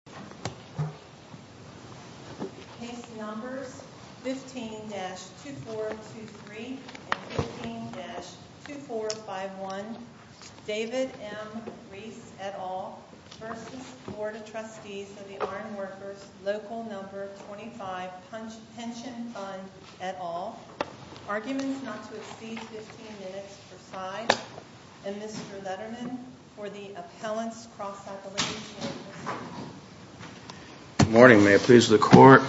15-2423 and 15-2451 David M. Rees, et al. v. Bd of Trustees of the Iron Workers Local No. 25 Pension Fund, et al. Arguments not to exceed 15 minutes per side, and Mr. Letterman for the appellant's cross-appellation. Good morning, may it please the Court.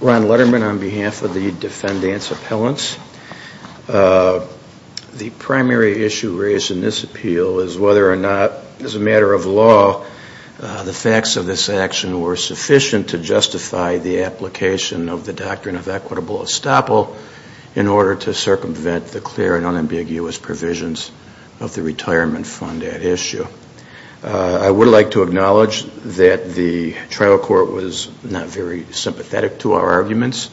Ron Letterman on behalf of the defendant's appellants. The primary issue raised in this appeal is whether or not, as a matter of law, the facts of this action were sufficient to justify the application of the doctrine of equitable estoppel in order to circumvent the clear and unambiguous provisions of the retirement fund at issue. I would like to acknowledge that the trial court was not very sympathetic to our arguments.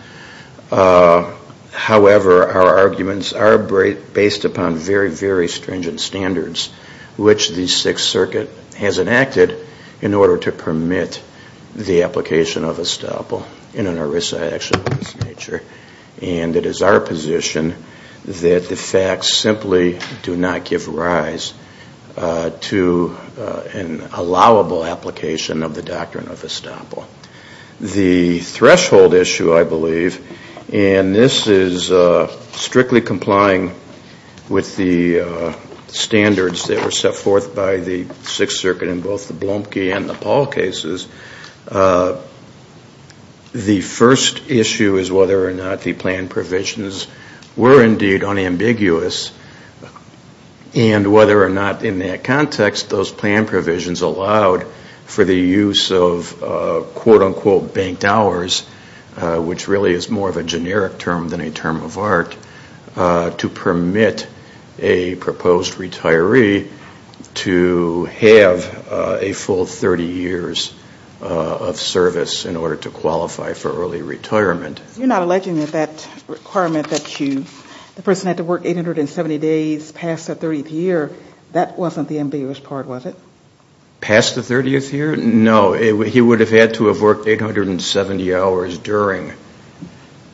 However, our arguments are based upon very, very stringent standards, which the Sixth Circuit has enacted in order to permit the application of estoppel in an ERISA action of this nature, and it is our position that the facts simply do not give rise to an allowable application of the doctrine of estoppel. The threshold issue, I believe, and this is strictly complying with the standards that were set forth by the Sixth Circuit in both the Blumke and the Paul cases, the first issue is whether or not the plan provisions were indeed unambiguous, and whether or not in that context those plan provisions allowed for the use of quote-unquote banked hours, which really is more of a generic term than a term of art, to permit a proposed retiree to have a full 30 years of service in order to qualify for early retirement. You're not alleging that that requirement that the person had to work 870 days past the 30th year, that wasn't the ambiguous part, was it? Past the 30th year? No, he would have had to have worked 870 hours during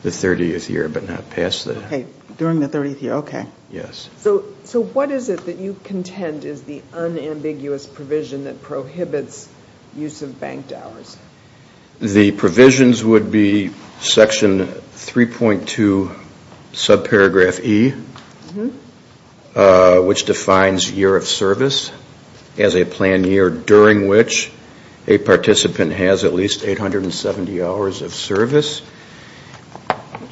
the 30th year, but not past that. Okay, during the 30th year, okay. Yes. So what is it that you contend is the unambiguous provision that prohibits use of banked hours? The provisions would be section 3.2, subparagraph E, which defines year of service as a planned year during which a participant has at least 870 hours of service.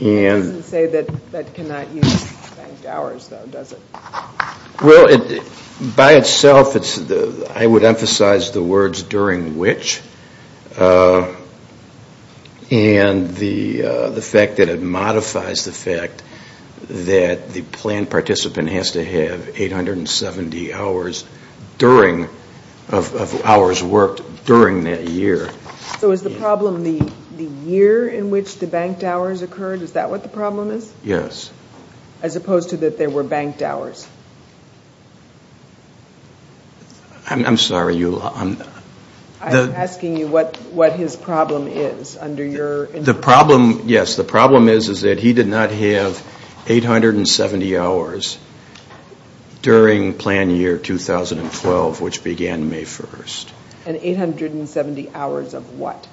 It doesn't say that that cannot use banked hours, though, does it? Well, by itself, I would emphasize the words during which, and the fact that it modifies the fact that the planned participant has to have 870 hours of hours worked during that year. So is the problem the year in which the banked hours occurred? Is that what the problem is? Yes. As opposed to that there were banked hours? I'm sorry, Eula. I'm asking you what his problem is under your interpretation. Yes, the problem is that he did not have 870 hours during planned year 2012, which began May 1st. And 870 hours of what?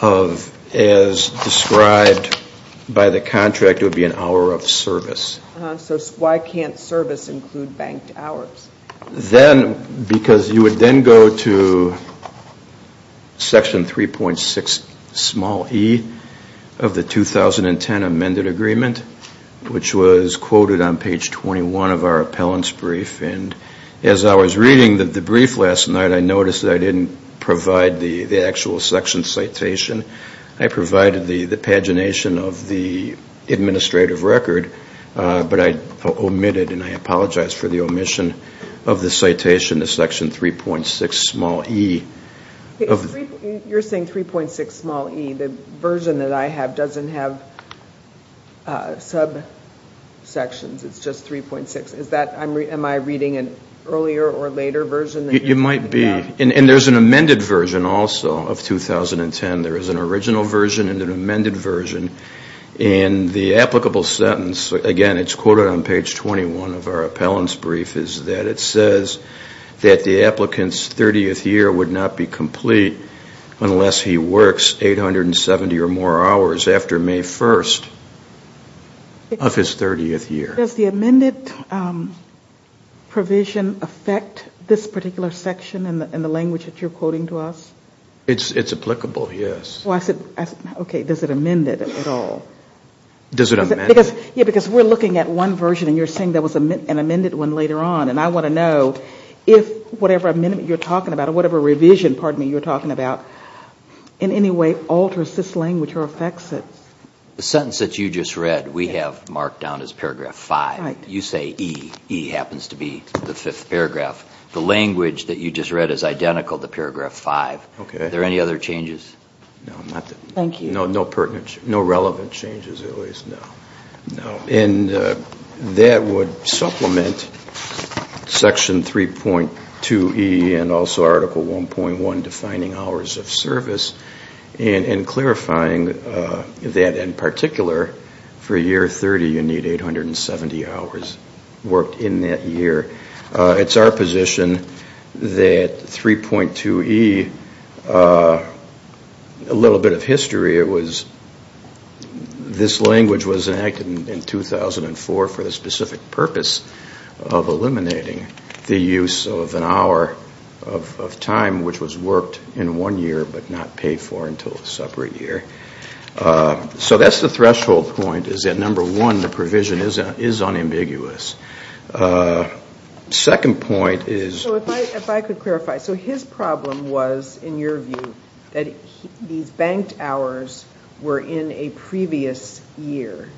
Of, as described by the contract, it would be an hour of service. So why can't service include banked hours? Then, because you would then go to section 3.6, small e, of the 2010 amended agreement, which was quoted on page 21 of our appellant's brief. As I was reading the brief last night, I noticed that I didn't provide the actual section citation. I provided the pagination of the administrative record, but I omitted, and I apologize for the omission, of the citation to section 3.6, small e. You're saying 3.6, small e. The version that I have doesn't have subsections. It's just 3.6. Am I reading an earlier or later version? You might be. And there's an amended version also of 2010. There is an original version and an amended version. And the applicable sentence, again, it's quoted on page 21 of our appellant's brief, is that it says that the applicant's 30th year would not be complete unless he works 870 or more hours after May 1st of his 30th year. Does the amended provision affect this particular section in the language that you're quoting to us? It's applicable, yes. I said, okay, does it amend it at all? Does it amend it? Yeah, because we're looking at one version, and you're saying there was an amended one later on. And I want to know if whatever amendment you're talking about, or whatever revision, pardon me, you're talking about, in any way alters this language or affects it. The sentence that you just read, we have marked down as paragraph 5. You say E. E happens to be the fifth paragraph. The language that you just read is identical to paragraph 5. Okay. Are there any other changes? No, not that. Thank you. No, no pertinent changes. No relevant changes, at least. No. And that would supplement section 3.2E and also article 1.1 defining hours of service and clarifying that, in particular, for year 30, you need 870 hours worked in that year. It's our position that 3.2E, a little bit of history, this language was enacted in 2004 for the specific purpose of eliminating the use of an hour of time which was worked in one year but not paid for until a separate year. So that's the threshold point is that, number one, the provision is unambiguous. Second point is... So if I could clarify. So his problem was, in your view, that these banked hours were in a previous year,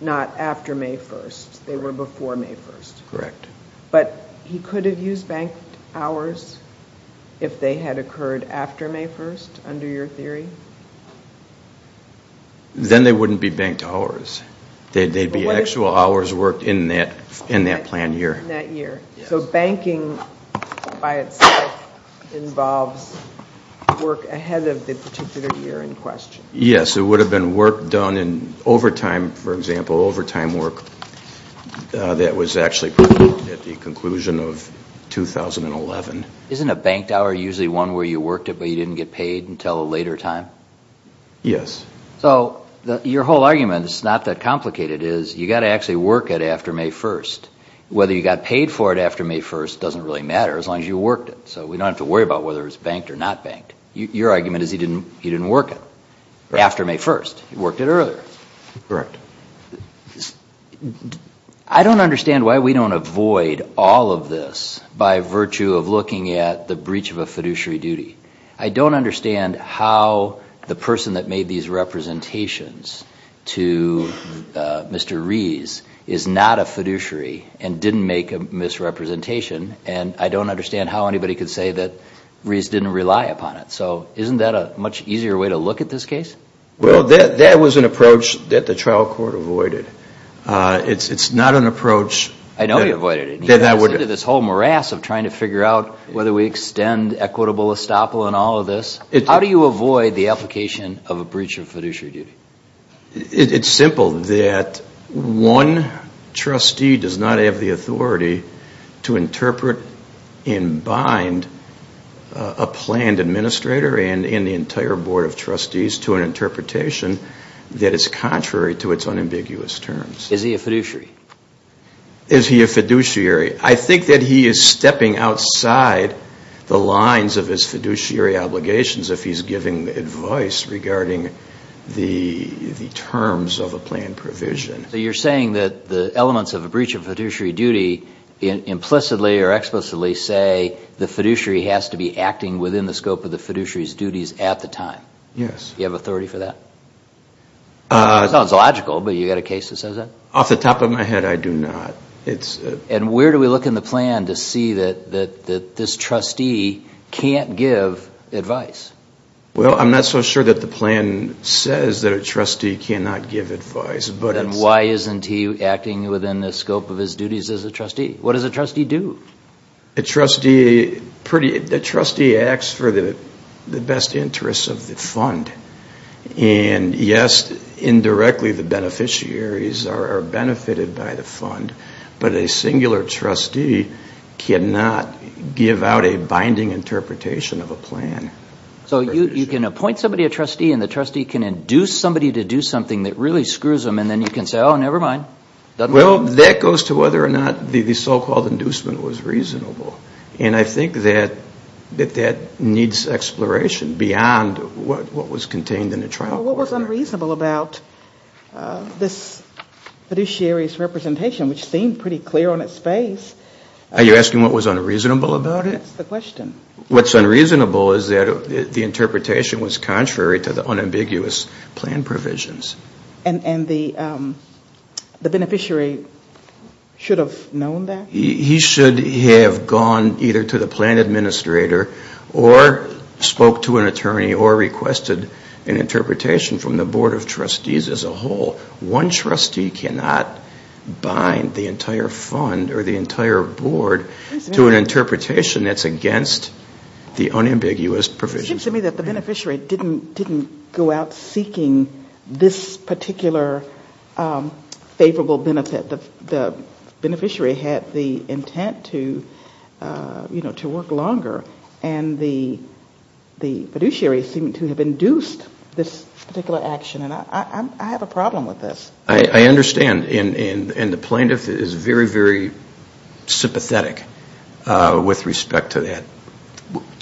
not after May 1st. They were before May 1st. Correct. But he could have used banked hours if they had occurred after May 1st, under your theory? Then they wouldn't be banked hours. They'd be actual hours worked in that planned year. In that year. So banking, by itself, involves work ahead of the particular year in question. Yes. So it would have been work done in overtime, for example, overtime work that was actually at the conclusion of 2011. Isn't a banked hour usually one where you worked it but you didn't get paid until a later time? Yes. So your whole argument, it's not that complicated, is you've got to actually work it after May 1st. Whether you got paid for it after May 1st doesn't really matter as long as you worked it. So we don't have to worry about whether it's banked or not banked. Your argument is he didn't work it after May 1st. He worked it earlier. Correct. I don't understand why we don't avoid all of this by virtue of looking at the breach of a fiduciary duty. I don't understand how the person that made these representations to Mr. Rees is not a fiduciary and didn't make a misrepresentation. And I don't understand how anybody could say that Rees didn't rely upon it. So isn't that a much easier way to look at this case? Well, that was an approach that the trial court avoided. It's not an approach... I know you avoided it. ...that that would... ...this whole morass of trying to figure out whether we extend equitable estoppel in all of this. How do you avoid the application of a breach of fiduciary duty? It's simple. That one trustee does not have the authority to interpret and bind a planned administrator and the entire board of trustees to an interpretation that is contrary to its unambiguous terms. Is he a fiduciary? Is he a fiduciary? I think that he is stepping outside the lines of his fiduciary obligations if he's giving advice regarding the terms of a planned provision. So you're saying that the elements of a breach of fiduciary duty implicitly or explicitly say the fiduciary has to be acting within the scope of the fiduciary's duties at the time? Yes. You have authority for that? It sounds logical, but you've got a case that says that? Off the top of my head, I do not. And where do we look in the plan to see that this trustee can't give advice? Well, I'm not so sure that the plan says that a trustee cannot give advice, but... Then why isn't he acting within the scope of his duties as a trustee? What does a trustee do? A trustee acts for the best interests of the fund. And yes, indirectly the beneficiaries are benefited by the fund, but a singular trustee cannot give out a binding interpretation of a plan. So you can appoint somebody a trustee and the trustee can induce somebody to do something that really screws them and then you can say, oh, never mind. Well, that goes to whether or not the so-called inducement was reasonable. And I think that that needs exploration beyond what was contained in the trial. What was unreasonable about this fiduciary's representation, which seemed pretty clear on its face? Are you asking what was unreasonable about it? That's the question. What's unreasonable is that the interpretation was contrary to the unambiguous plan provisions. And the beneficiary should have known that? He should have gone either to the plan administrator or spoke to an attorney or requested an interpretation from the board of trustees as a whole. One trustee cannot bind the entire fund or the entire board to an interpretation that's against the unambiguous provisions. It seems to me that the beneficiary didn't go out seeking this particular favorable benefit. The beneficiary had the intent to, you know, to work longer. And the fiduciary seemed to have induced this particular action. And I have a problem with this. I understand. And the plaintiff is very, very sympathetic with respect to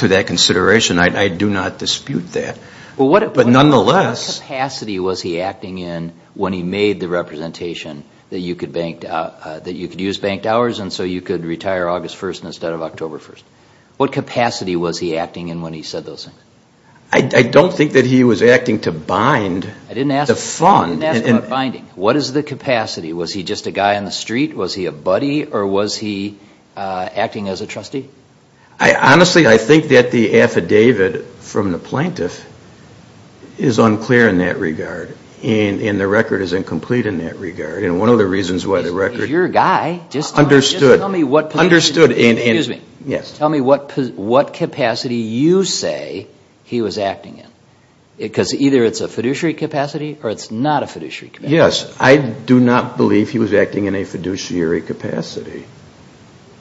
that consideration. I do not dispute that. But nonetheless. What capacity was he acting in when he made the representation that you could use banked hours and so you could retire August 1st instead of October 1st? What capacity was he acting in when he said those things? I don't think that he was acting to bind the fund. I didn't ask about binding. What is the capacity? Was he just a guy on the street? Was he a buddy? Or was he acting as a trustee? Honestly, I think that the affidavit from the plaintiff is unclear in that regard. And the record is incomplete in that regard. And one of the reasons why the record understood. Tell me what capacity you say he was acting in. Because either it's a fiduciary capacity or it's not a fiduciary capacity. Yes. I do not believe he was acting in a fiduciary capacity.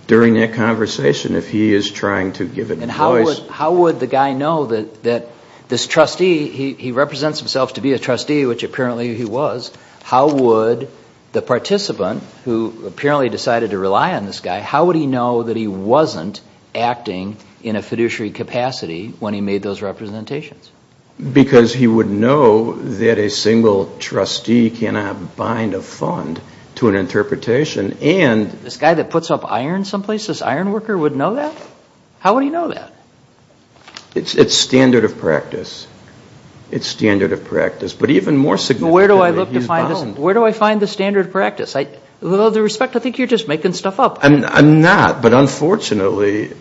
During that conversation, if he is trying to give it a voice. And how would the guy know that this trustee, he represents himself to be a trustee, which apparently he was. How would the participant, who apparently decided to rely on this guy, how would he know that he wasn't acting in a fiduciary capacity when he made those representations? Because he would know that a single trustee cannot bind a fund to an interpretation. This guy that puts up iron someplace, this iron worker would know that? How would he know that? It's standard of practice. It's standard of practice. But even more significantly, he's bound. Where do I find the standard of practice? With all due respect, I think you're just making stuff up. I'm not. But unfortunately,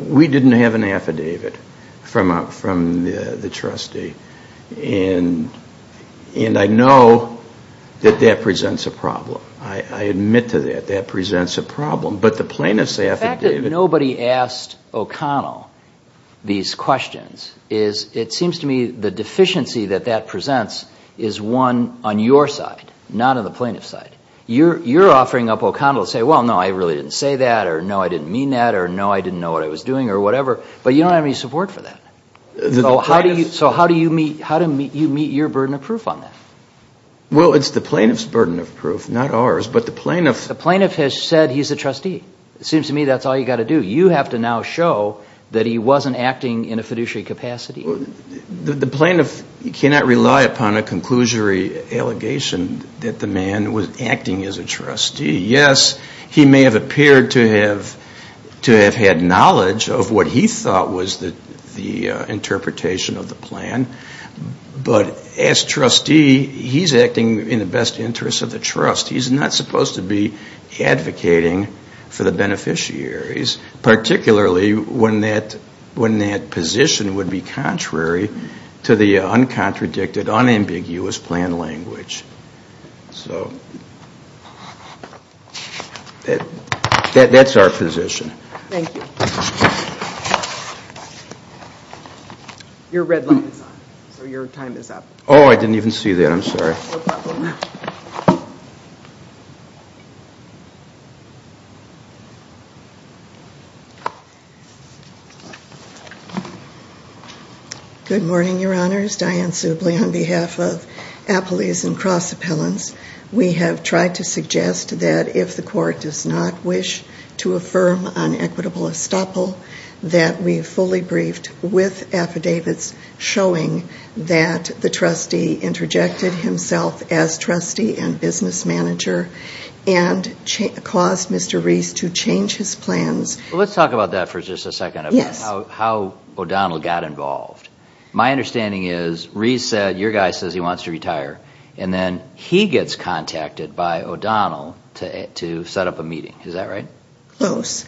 we didn't have an affidavit from the trustee. And I know that that presents a problem. I admit to that. That presents a problem. But the plaintiff's affidavit. The fact that nobody asked O'Connell these questions is, it seems to me, the deficiency that that presents is one on your side, not on the plaintiff's side. You're offering up O'Connell to say, well, no, I really didn't say that, or no, I didn't mean that, or no, I didn't know what I was doing, or whatever. But you don't have any support for that. So how do you meet your burden of proof on that? Well, it's the plaintiff's burden of proof, not ours, but the plaintiff's. The plaintiff has said he's a trustee. It seems to me that's all you've got to do. You have to now show that he wasn't acting in a fiduciary capacity. The plaintiff cannot rely upon a conclusory allegation that the man was acting as a trustee. Yes, he may have appeared to have had knowledge of what he thought was the interpretation of the plan. But as trustee, he's acting in the best interest of the trust. He's not supposed to be advocating for the beneficiaries, particularly when that position would be contrary to the uncontradicted, unambiguous plan language. That's our position. Thank you. Your red light is on. So your time is up. Oh, I didn't even see that. I'm sorry. No problem. Good morning, Your Honors. Diane Subly on behalf of Appellees and Cross Appellants. We have tried to suggest that if the court does not wish to affirm an equitable estoppel, that we fully briefed with affidavits showing that the trustee interjected himself as trustee and business manager and caused Mr. Reese to change his plans. Let's talk about that for just a second, about how O'Donnell got involved. My understanding is Reese said, your guy says he wants to retire, and then he gets contacted by O'Donnell to set up a meeting. Is that right? Close.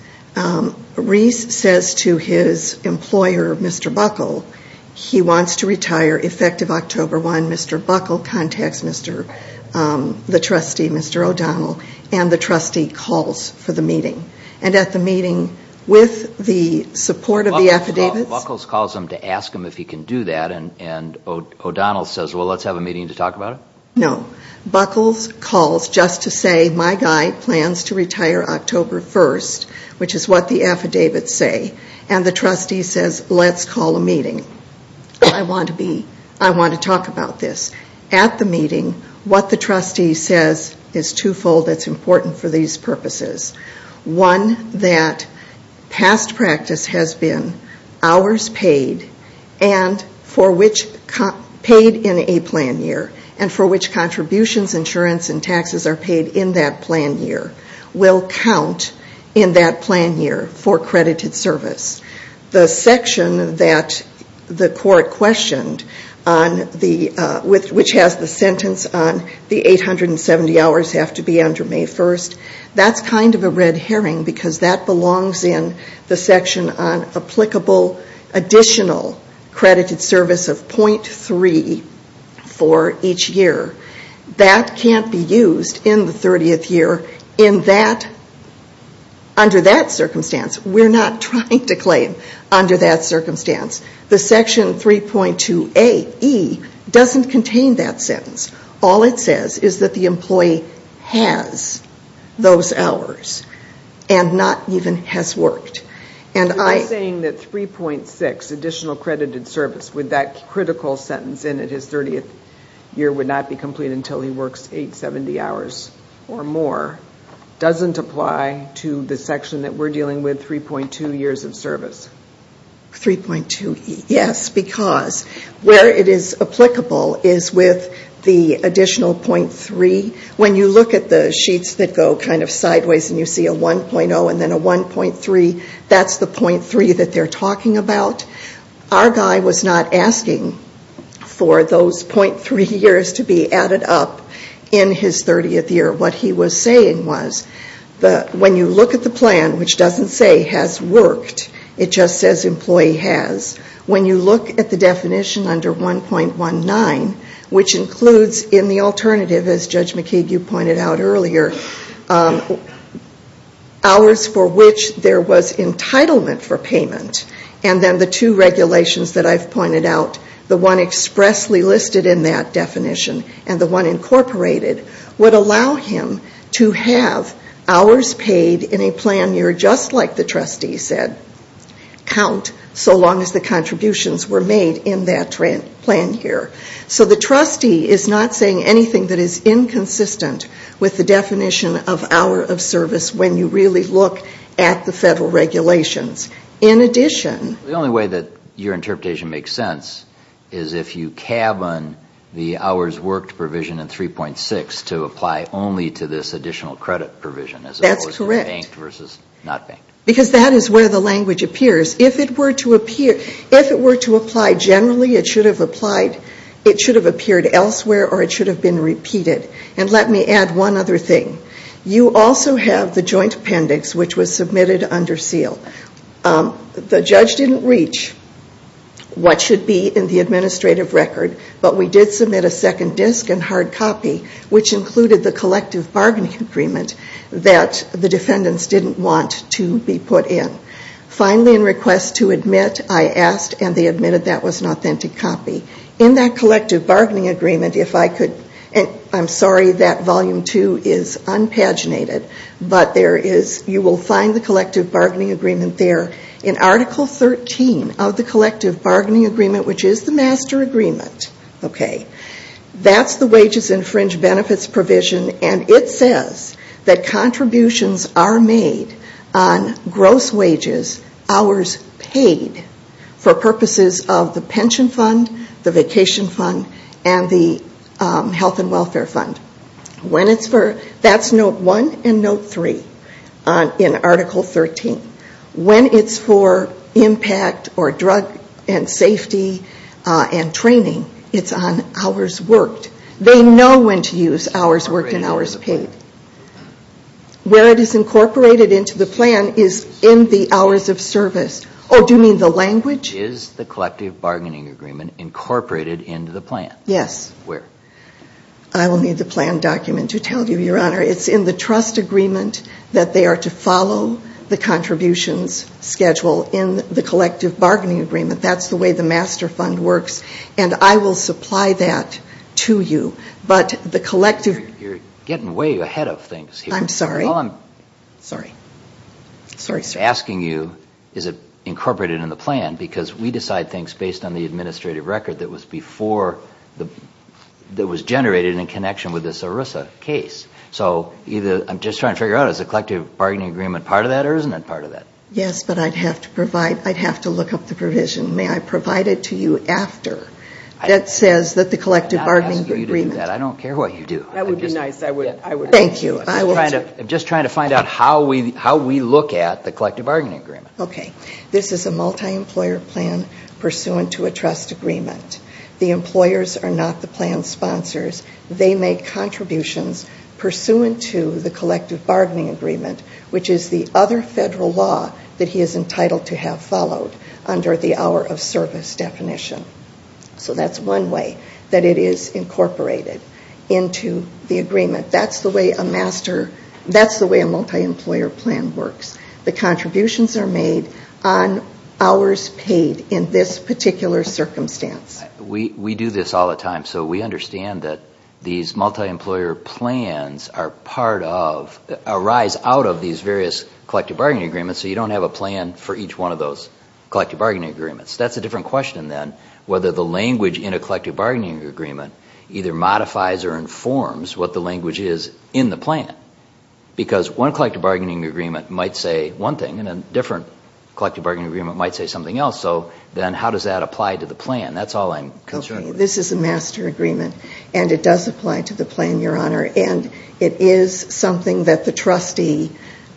Reese says to his employer, Mr. Buckle, he wants to retire effective October 1. Mr. Buckle contacts the trustee, Mr. O'Donnell, and the trustee calls for the meeting. And at the meeting, with the support of the affidavits… And O'Donnell says, well, let's have a meeting to talk about it? No. Buckle calls just to say, my guy plans to retire October 1, which is what the affidavits say. And the trustee says, let's call a meeting. I want to talk about this. At the meeting, what the trustee says is twofold. It's important for these purposes. One, that past practice has been hours paid, paid in a plan year, and for which contributions, insurance, and taxes are paid in that plan year will count in that plan year for credited service. The section that the court questioned, which has the sentence on the 870 hours have to be under May 1st, that's kind of a red herring because that belongs in the section on applicable additional credited service of .3 for each year. That can't be used in the 30th year under that circumstance. We're not trying to claim under that circumstance. The section 3.2aE doesn't contain that sentence. All it says is that the employee has those hours and not even has worked. You're saying that 3.6, additional credited service, with that critical sentence in it, his 30th year would not be complete until he works 870 hours or more, doesn't apply to the section that we're dealing with, 3.2 years of service. 3.2, yes, because where it is applicable is with the additional .3. When you look at the sheets that go kind of sideways and you see a 1.0 and then a 1.3, that's the .3 that they're talking about. Our guy was not asking for those .3 years to be added up in his 30th year. What he was saying was that when you look at the plan, which doesn't say has worked, it just says employee has, when you look at the definition under 1.19, which includes in the alternative, as Judge McKeague, you pointed out earlier, hours for which there was entitlement for payment, and then the two regulations that I've pointed out, the one expressly listed in that definition and the one incorporated, would allow him to have hours paid in a plan year just like the trustee said, count so long as the contributions were made in that plan year. So the trustee is not saying anything that is inconsistent with the definition of hour of service when you really look at the federal regulations. In addition... to this additional credit provision as opposed to banked versus not banked. Because that is where the language appears. If it were to apply generally, it should have appeared elsewhere or it should have been repeated. And let me add one other thing. You also have the joint appendix, which was submitted under seal. The judge didn't reach what should be in the administrative record, but we did submit a second disc and hard copy, which included the collective bargaining agreement that the defendants didn't want to be put in. Finally, in request to admit, I asked and they admitted that was an authentic copy. In that collective bargaining agreement, if I could... I'm sorry, that volume two is unpaginated, but you will find the collective bargaining agreement there. In article 13 of the collective bargaining agreement, which is the master agreement, that's the wages and fringe benefits provision and it says that contributions are made on gross wages, hours paid for purposes of the pension fund, the vacation fund, and the health and welfare fund. That's note one and note three in article 13. When it's for impact or drug and safety and training, it's on hours worked. They know when to use hours worked and hours paid. Where it is incorporated into the plan is in the hours of service. Oh, do you mean the language? Is the collective bargaining agreement incorporated into the plan? Yes. Where? I will need the plan document to tell you, Your Honor. It's in the trust agreement that they are to follow the contributions schedule in the collective bargaining agreement. That's the way the master fund works, and I will supply that to you. But the collective... You're getting way ahead of things here. I'm sorry. All I'm asking you, is it incorporated in the plan? Because we decide things based on the administrative record that was generated in connection with this ERISA case. So I'm just trying to figure out, is the collective bargaining agreement part of that or isn't it part of that? Yes, but I'd have to look up the provision. May I provide it to you after? That says that the collective bargaining agreement... I'm not asking you to do that. I don't care what you do. That would be nice. Thank you. I'm just trying to find out how we look at the collective bargaining agreement. Okay. This is a multi-employer plan pursuant to a trust agreement. The employers are not the plan sponsors. They make contributions pursuant to the collective bargaining agreement, which is the other federal law that he is entitled to have followed under the hour of service definition. So that's one way that it is incorporated into the agreement. That's the way a multi-employer plan works. The contributions are made on hours paid in this particular circumstance. We do this all the time. So we understand that these multi-employer plans arise out of these various collective bargaining agreements, so you don't have a plan for each one of those collective bargaining agreements. That's a different question then, whether the language in a collective bargaining agreement either modifies or informs what the language is in the plan. Because one collective bargaining agreement might say one thing and a different collective bargaining agreement might say something else, so then how does that apply to the plan? That's all I'm concerned with. This is a master agreement, and it does apply to the plan, Your Honor, and it is something that the trustee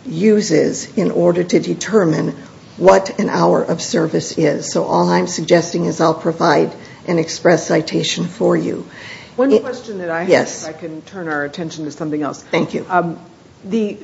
uses in order to determine what an hour of service is. So all I'm suggesting is I'll provide an express citation for you. One question that I have, if I can turn our attention to something else. Thank you. The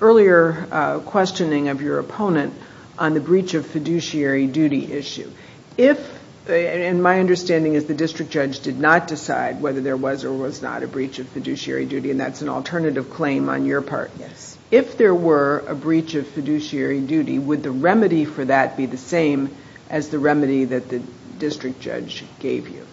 earlier questioning of your opponent on the breach of fiduciary duty issue, if, and my understanding is the district judge did not decide whether there was or was not a breach of fiduciary duty, and that's an alternative claim on your part. Yes. If there were a breach of fiduciary duty, would the remedy for that be the same as the remedy that the district judge gave you?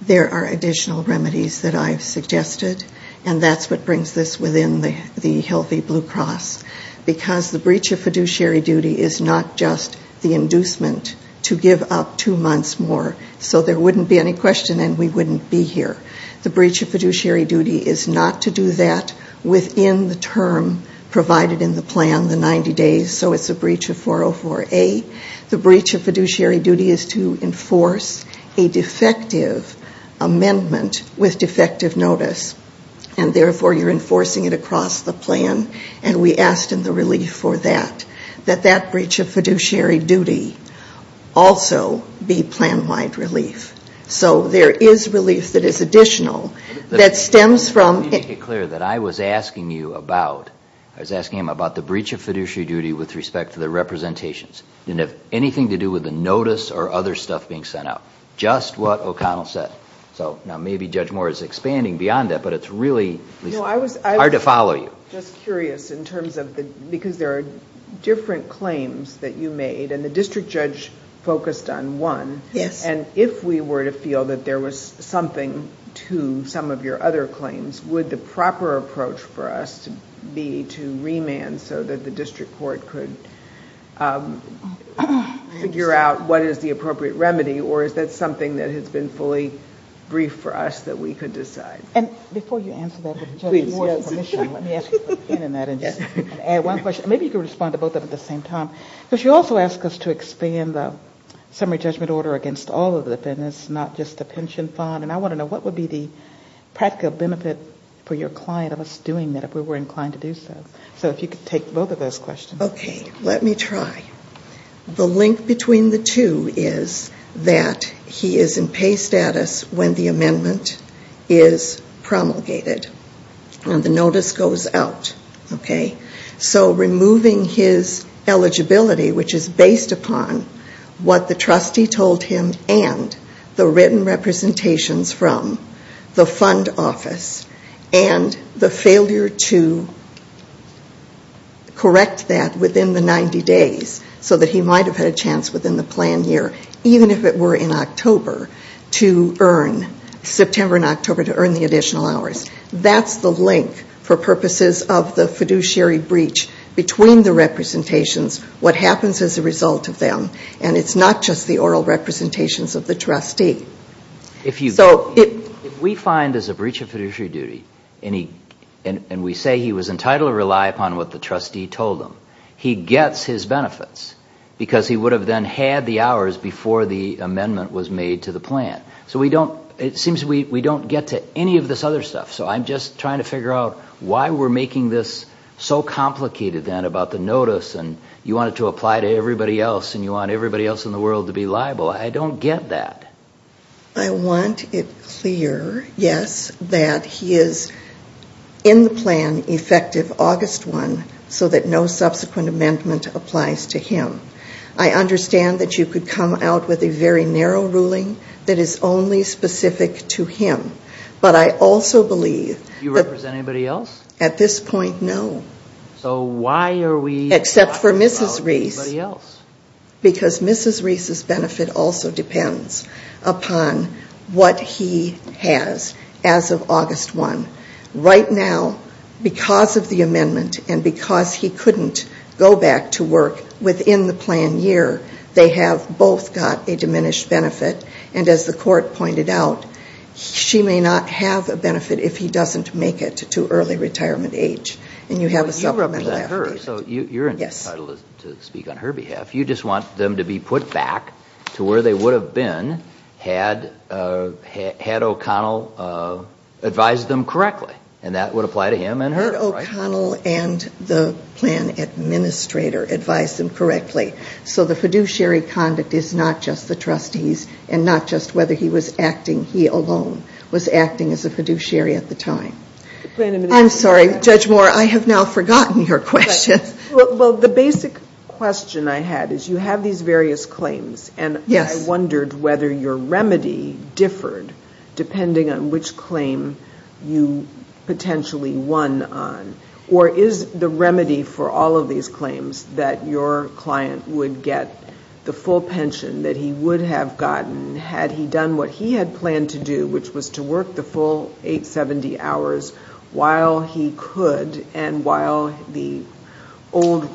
There are additional remedies that I've suggested, and that's what brings this within the healthy blue cross, because the breach of fiduciary duty is not just the inducement to give up two months more so there wouldn't be any question and we wouldn't be here. The breach of fiduciary duty is not to do that within the term provided in the plan, the 90 days, so it's a breach of 404A. The breach of fiduciary duty is to enforce a defective amendment with defective notice, and therefore you're enforcing it across the plan, and we asked in the relief for that, that that breach of fiduciary duty also be plan-wide relief. So there is relief that is additional that stems from it. Let me make it clear that I was asking you about, I was asking him about the breach of fiduciary duty with respect to the representations. It didn't have anything to do with the notice or other stuff being sent out, just what O'Connell said. So now maybe Judge Moore is expanding beyond that, but it's really hard to follow you. I'm just curious, because there are different claims that you made, and the district judge focused on one, and if we were to feel that there was something to some of your other claims, would the proper approach for us be to remand so that the district court could figure out what is the appropriate remedy, or is that something that has been fully briefed for us that we could decide? And before you answer that with Judge Moore's permission, let me ask you to put a pin in that and just add one question. Maybe you could respond to both of them at the same time. Because she also asked us to expand the summary judgment order against all of the defendants, not just the pension fund, and I want to know what would be the practical benefit for your client of us doing that if we were inclined to do so. So if you could take both of those questions. Okay. Let me try. The link between the two is that he is in pay status when the amendment is promulgated, and the notice goes out. So removing his eligibility, which is based upon what the trustee told him and the written representations from the fund office and the failure to correct that within the 90 days so that he might have had a chance within the plan year, even if it were in September and October, to earn the additional hours, that's the link for purposes of the fiduciary breach between the representations, what happens as a result of them. And it's not just the oral representations of the trustee. If we find there's a breach of fiduciary duty and we say he was entitled to rely upon what the trustee told him, he gets his benefits because he would have then had the hours before the amendment was made to the plan. So it seems we don't get to any of this other stuff. So I'm just trying to figure out why we're making this so complicated then about the notice and you want it to apply to everybody else and you want everybody else in the world to be liable. I don't get that. I want it clear, yes, that he is in the plan effective August 1 so that no subsequent amendment applies to him. I understand that you could come out with a very narrow ruling that is only specific to him. But I also believe... Do you represent anybody else? At this point, no. So why are we talking about anybody else? Except for Mrs. Reese because Mrs. Reese's benefit also depends upon what he has as of August 1. Right now, because of the amendment and because he couldn't go back to work within the plan year, they have both got a diminished benefit. And as the court pointed out, she may not have a benefit if he doesn't make it to early retirement age. And you have a supplemental affidavit. So you're entitled to speak on her behalf. You just want them to be put back to where they would have been had O'Connell advised them correctly. And that would apply to him and her, right? Had O'Connell and the plan administrator advised them correctly. So the fiduciary conduct is not just the trustees and not just whether he was acting, he alone was acting as a fiduciary at the time. I'm sorry, Judge Moore, I have now forgotten your question. Well, the basic question I had is you have these various claims. And I wondered whether your remedy differed depending on which claim you potentially won on. Or is the remedy for all of these claims that your client would get the full pension that he would have gotten had he done what he had planned to do, which was to work the full 870 hours while he could and while the old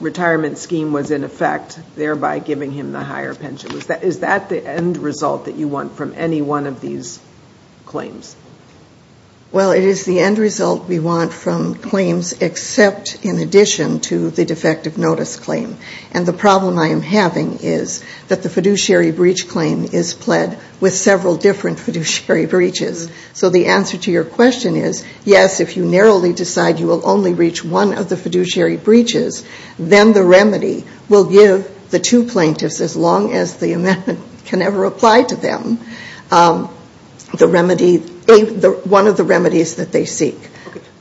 retirement scheme was in effect, thereby giving him the higher pension. Is that the end result that you want from any one of these claims? Well, it is the end result we want from claims except in addition to the defective notice claim. And the problem I am having is that the fiduciary breach claim is pled with several different fiduciary breaches. So the answer to your question is, yes, if you narrowly decide you will only reach one of the fiduciary breaches, then the remedy will give the two plaintiffs, as long as the amendment can ever apply to them, the remedy, one of the remedies that they seek.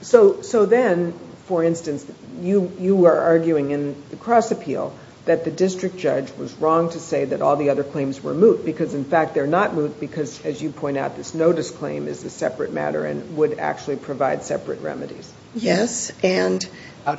So then, for instance, you are arguing in the cross appeal that the district judge was wrong to say that all the other claims were moot because, in fact, they are not moot because, as you point out, this notice claim is a separate matter and would actually provide separate remedies. Yes. And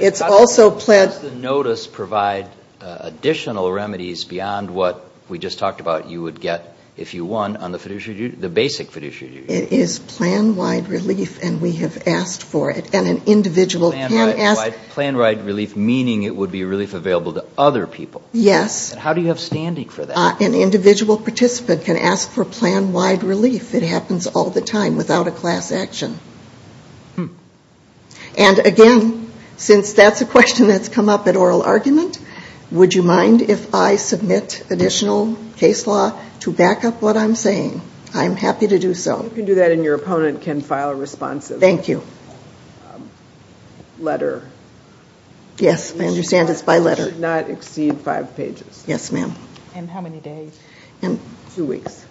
it's also pled. How does the notice provide additional remedies beyond what we just talked about you would get if you won on the fiduciary, the basic fiduciary? It is plan-wide relief, and we have asked for it. And an individual can ask. Plan-wide relief, meaning it would be relief available to other people. Yes. How do you have standing for that? An individual participant can ask for plan-wide relief. It happens all the time without a class action. And, again, since that's a question that's come up at oral argument, would you mind if I submit additional case law to back up what I'm saying? I'm happy to do so. You can do that, and your opponent can file a response. Thank you. Letter. Yes. I understand it's by letter. It should not exceed five pages. Yes, ma'am. And how many days? Two weeks.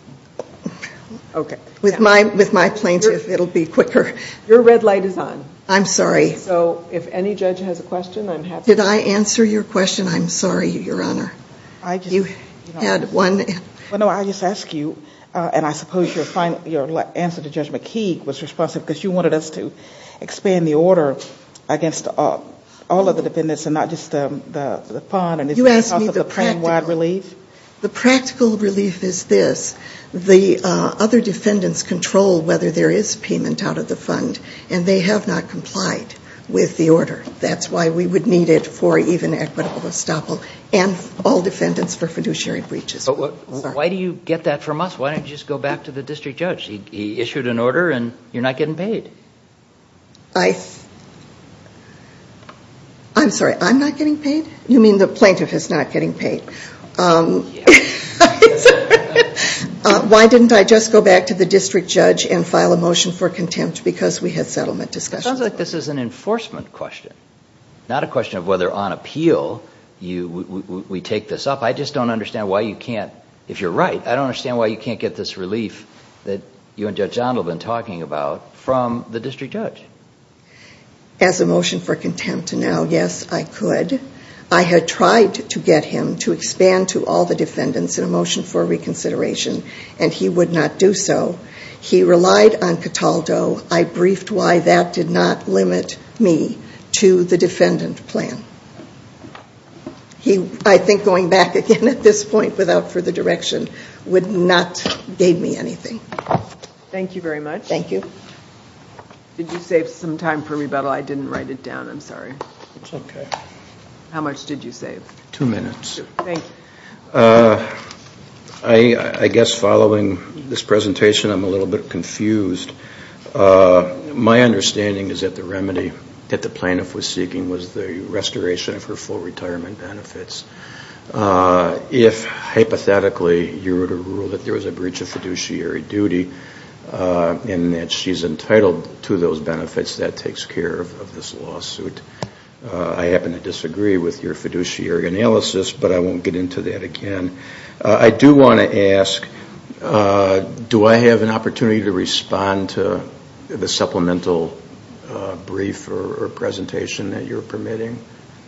Okay. With my plaintiff, it'll be quicker. Your red light is on. I'm sorry. So if any judge has a question, I'm happy to answer. Did I answer your question? I'm sorry, Your Honor. You had one. No, I just ask you, and I suppose your answer to Judge McKee was responsive because you wanted us to expand the order against all of the defendants and not just the fund. You asked me the practical relief. The practical relief is this. The other defendants control whether there is payment out of the fund, and they have not complied with the order. That's why we would need it for even equitable estoppel and all defendants for fiduciary breaches. Why do you get that from us? Why don't you just go back to the district judge? He issued an order, and you're not getting paid. I'm sorry. I'm not getting paid? You mean the plaintiff is not getting paid? Yes. Why didn't I just go back to the district judge and file a motion for contempt because we had settlement discussions? It sounds like this is an enforcement question, not a question of whether on appeal we take this up. I just don't understand why you can't. If you're right, I don't understand why you can't get this relief that you and Judge John have been talking about from the district judge. As a motion for contempt, yes, I could. I had tried to get him to expand to all the defendants in a motion for reconsideration, and he would not do so. He relied on Cataldo. I briefed why that did not limit me to the defendant plan. I think going back again at this point without further direction would not give me anything. Thank you very much. Thank you. Did you save some time for rebuttal? I didn't write it down. I'm sorry. It's okay. How much did you save? Two minutes. Thank you. I guess following this presentation I'm a little bit confused. My understanding is that the remedy that the plaintiff was seeking was the restoration of her full retirement benefits. If hypothetically you were to rule that there was a breach of fiduciary duty and that she's entitled to those benefits, that takes care of this lawsuit. I happen to disagree with your fiduciary analysis, but I won't get into that again. I do want to ask, do I have an opportunity to respond to the supplemental brief or presentation that you're permitting?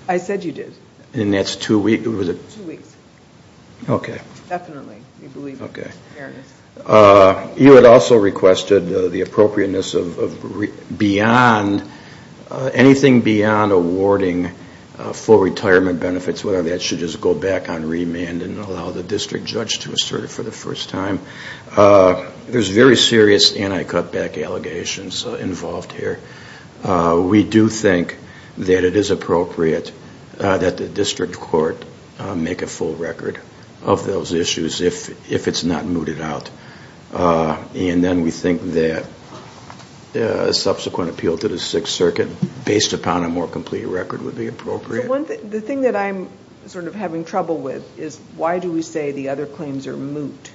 I said you did. And that's two weeks? Two weeks. Okay. Definitely. Okay. You had also requested the appropriateness of anything beyond awarding full retirement benefits, whether that should just go back on remand and allow the district judge to assert it for the first time. There's very serious anti-cutback allegations involved here. We do think that it is appropriate that the district court make a full record of those issues if it's not mooted out. And then we think that a subsequent appeal to the Sixth Circuit, based upon a more complete record, would be appropriate. The thing that I'm sort of having trouble with is, why do we say the other claims are moot?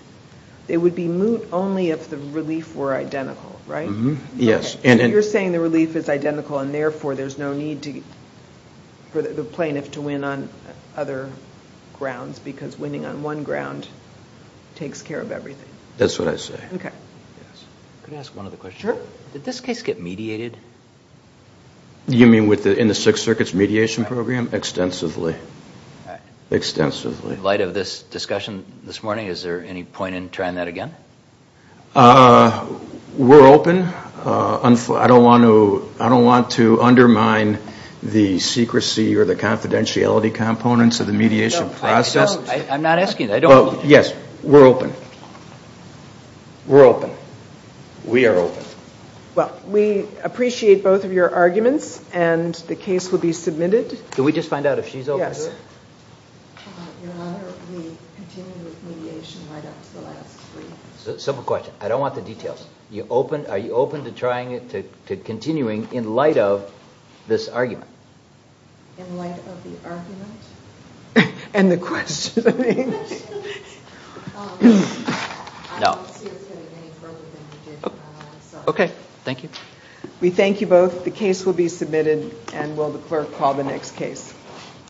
They would be moot only if the relief were identical, right? Yes. You're saying the relief is identical and, therefore, there's no need for the plaintiff to win on other grounds, because winning on one ground takes care of everything. That's what I say. Okay. Can I ask one other question? Sure. Did this case get mediated? You mean in the Sixth Circuit's mediation program? Extensively. Extensively. In light of this discussion this morning, is there any point in trying that again? We're open. I don't want to undermine the secrecy or the confidentiality components of the mediation process. I'm not asking that. Yes, we're open. We're open. We are open. Well, we appreciate both of your arguments, and the case will be submitted. Can we just find out if she's open? Yes. Your Honor, we continue with mediation right up to the last three. Simple question. I don't want the details. Are you open to trying it, to continuing in light of this argument? In light of the argument? And the question, I mean. I don't see us getting any further than we did. Okay. Thank you. We thank you both. The case will be submitted, and will the clerk call the next case.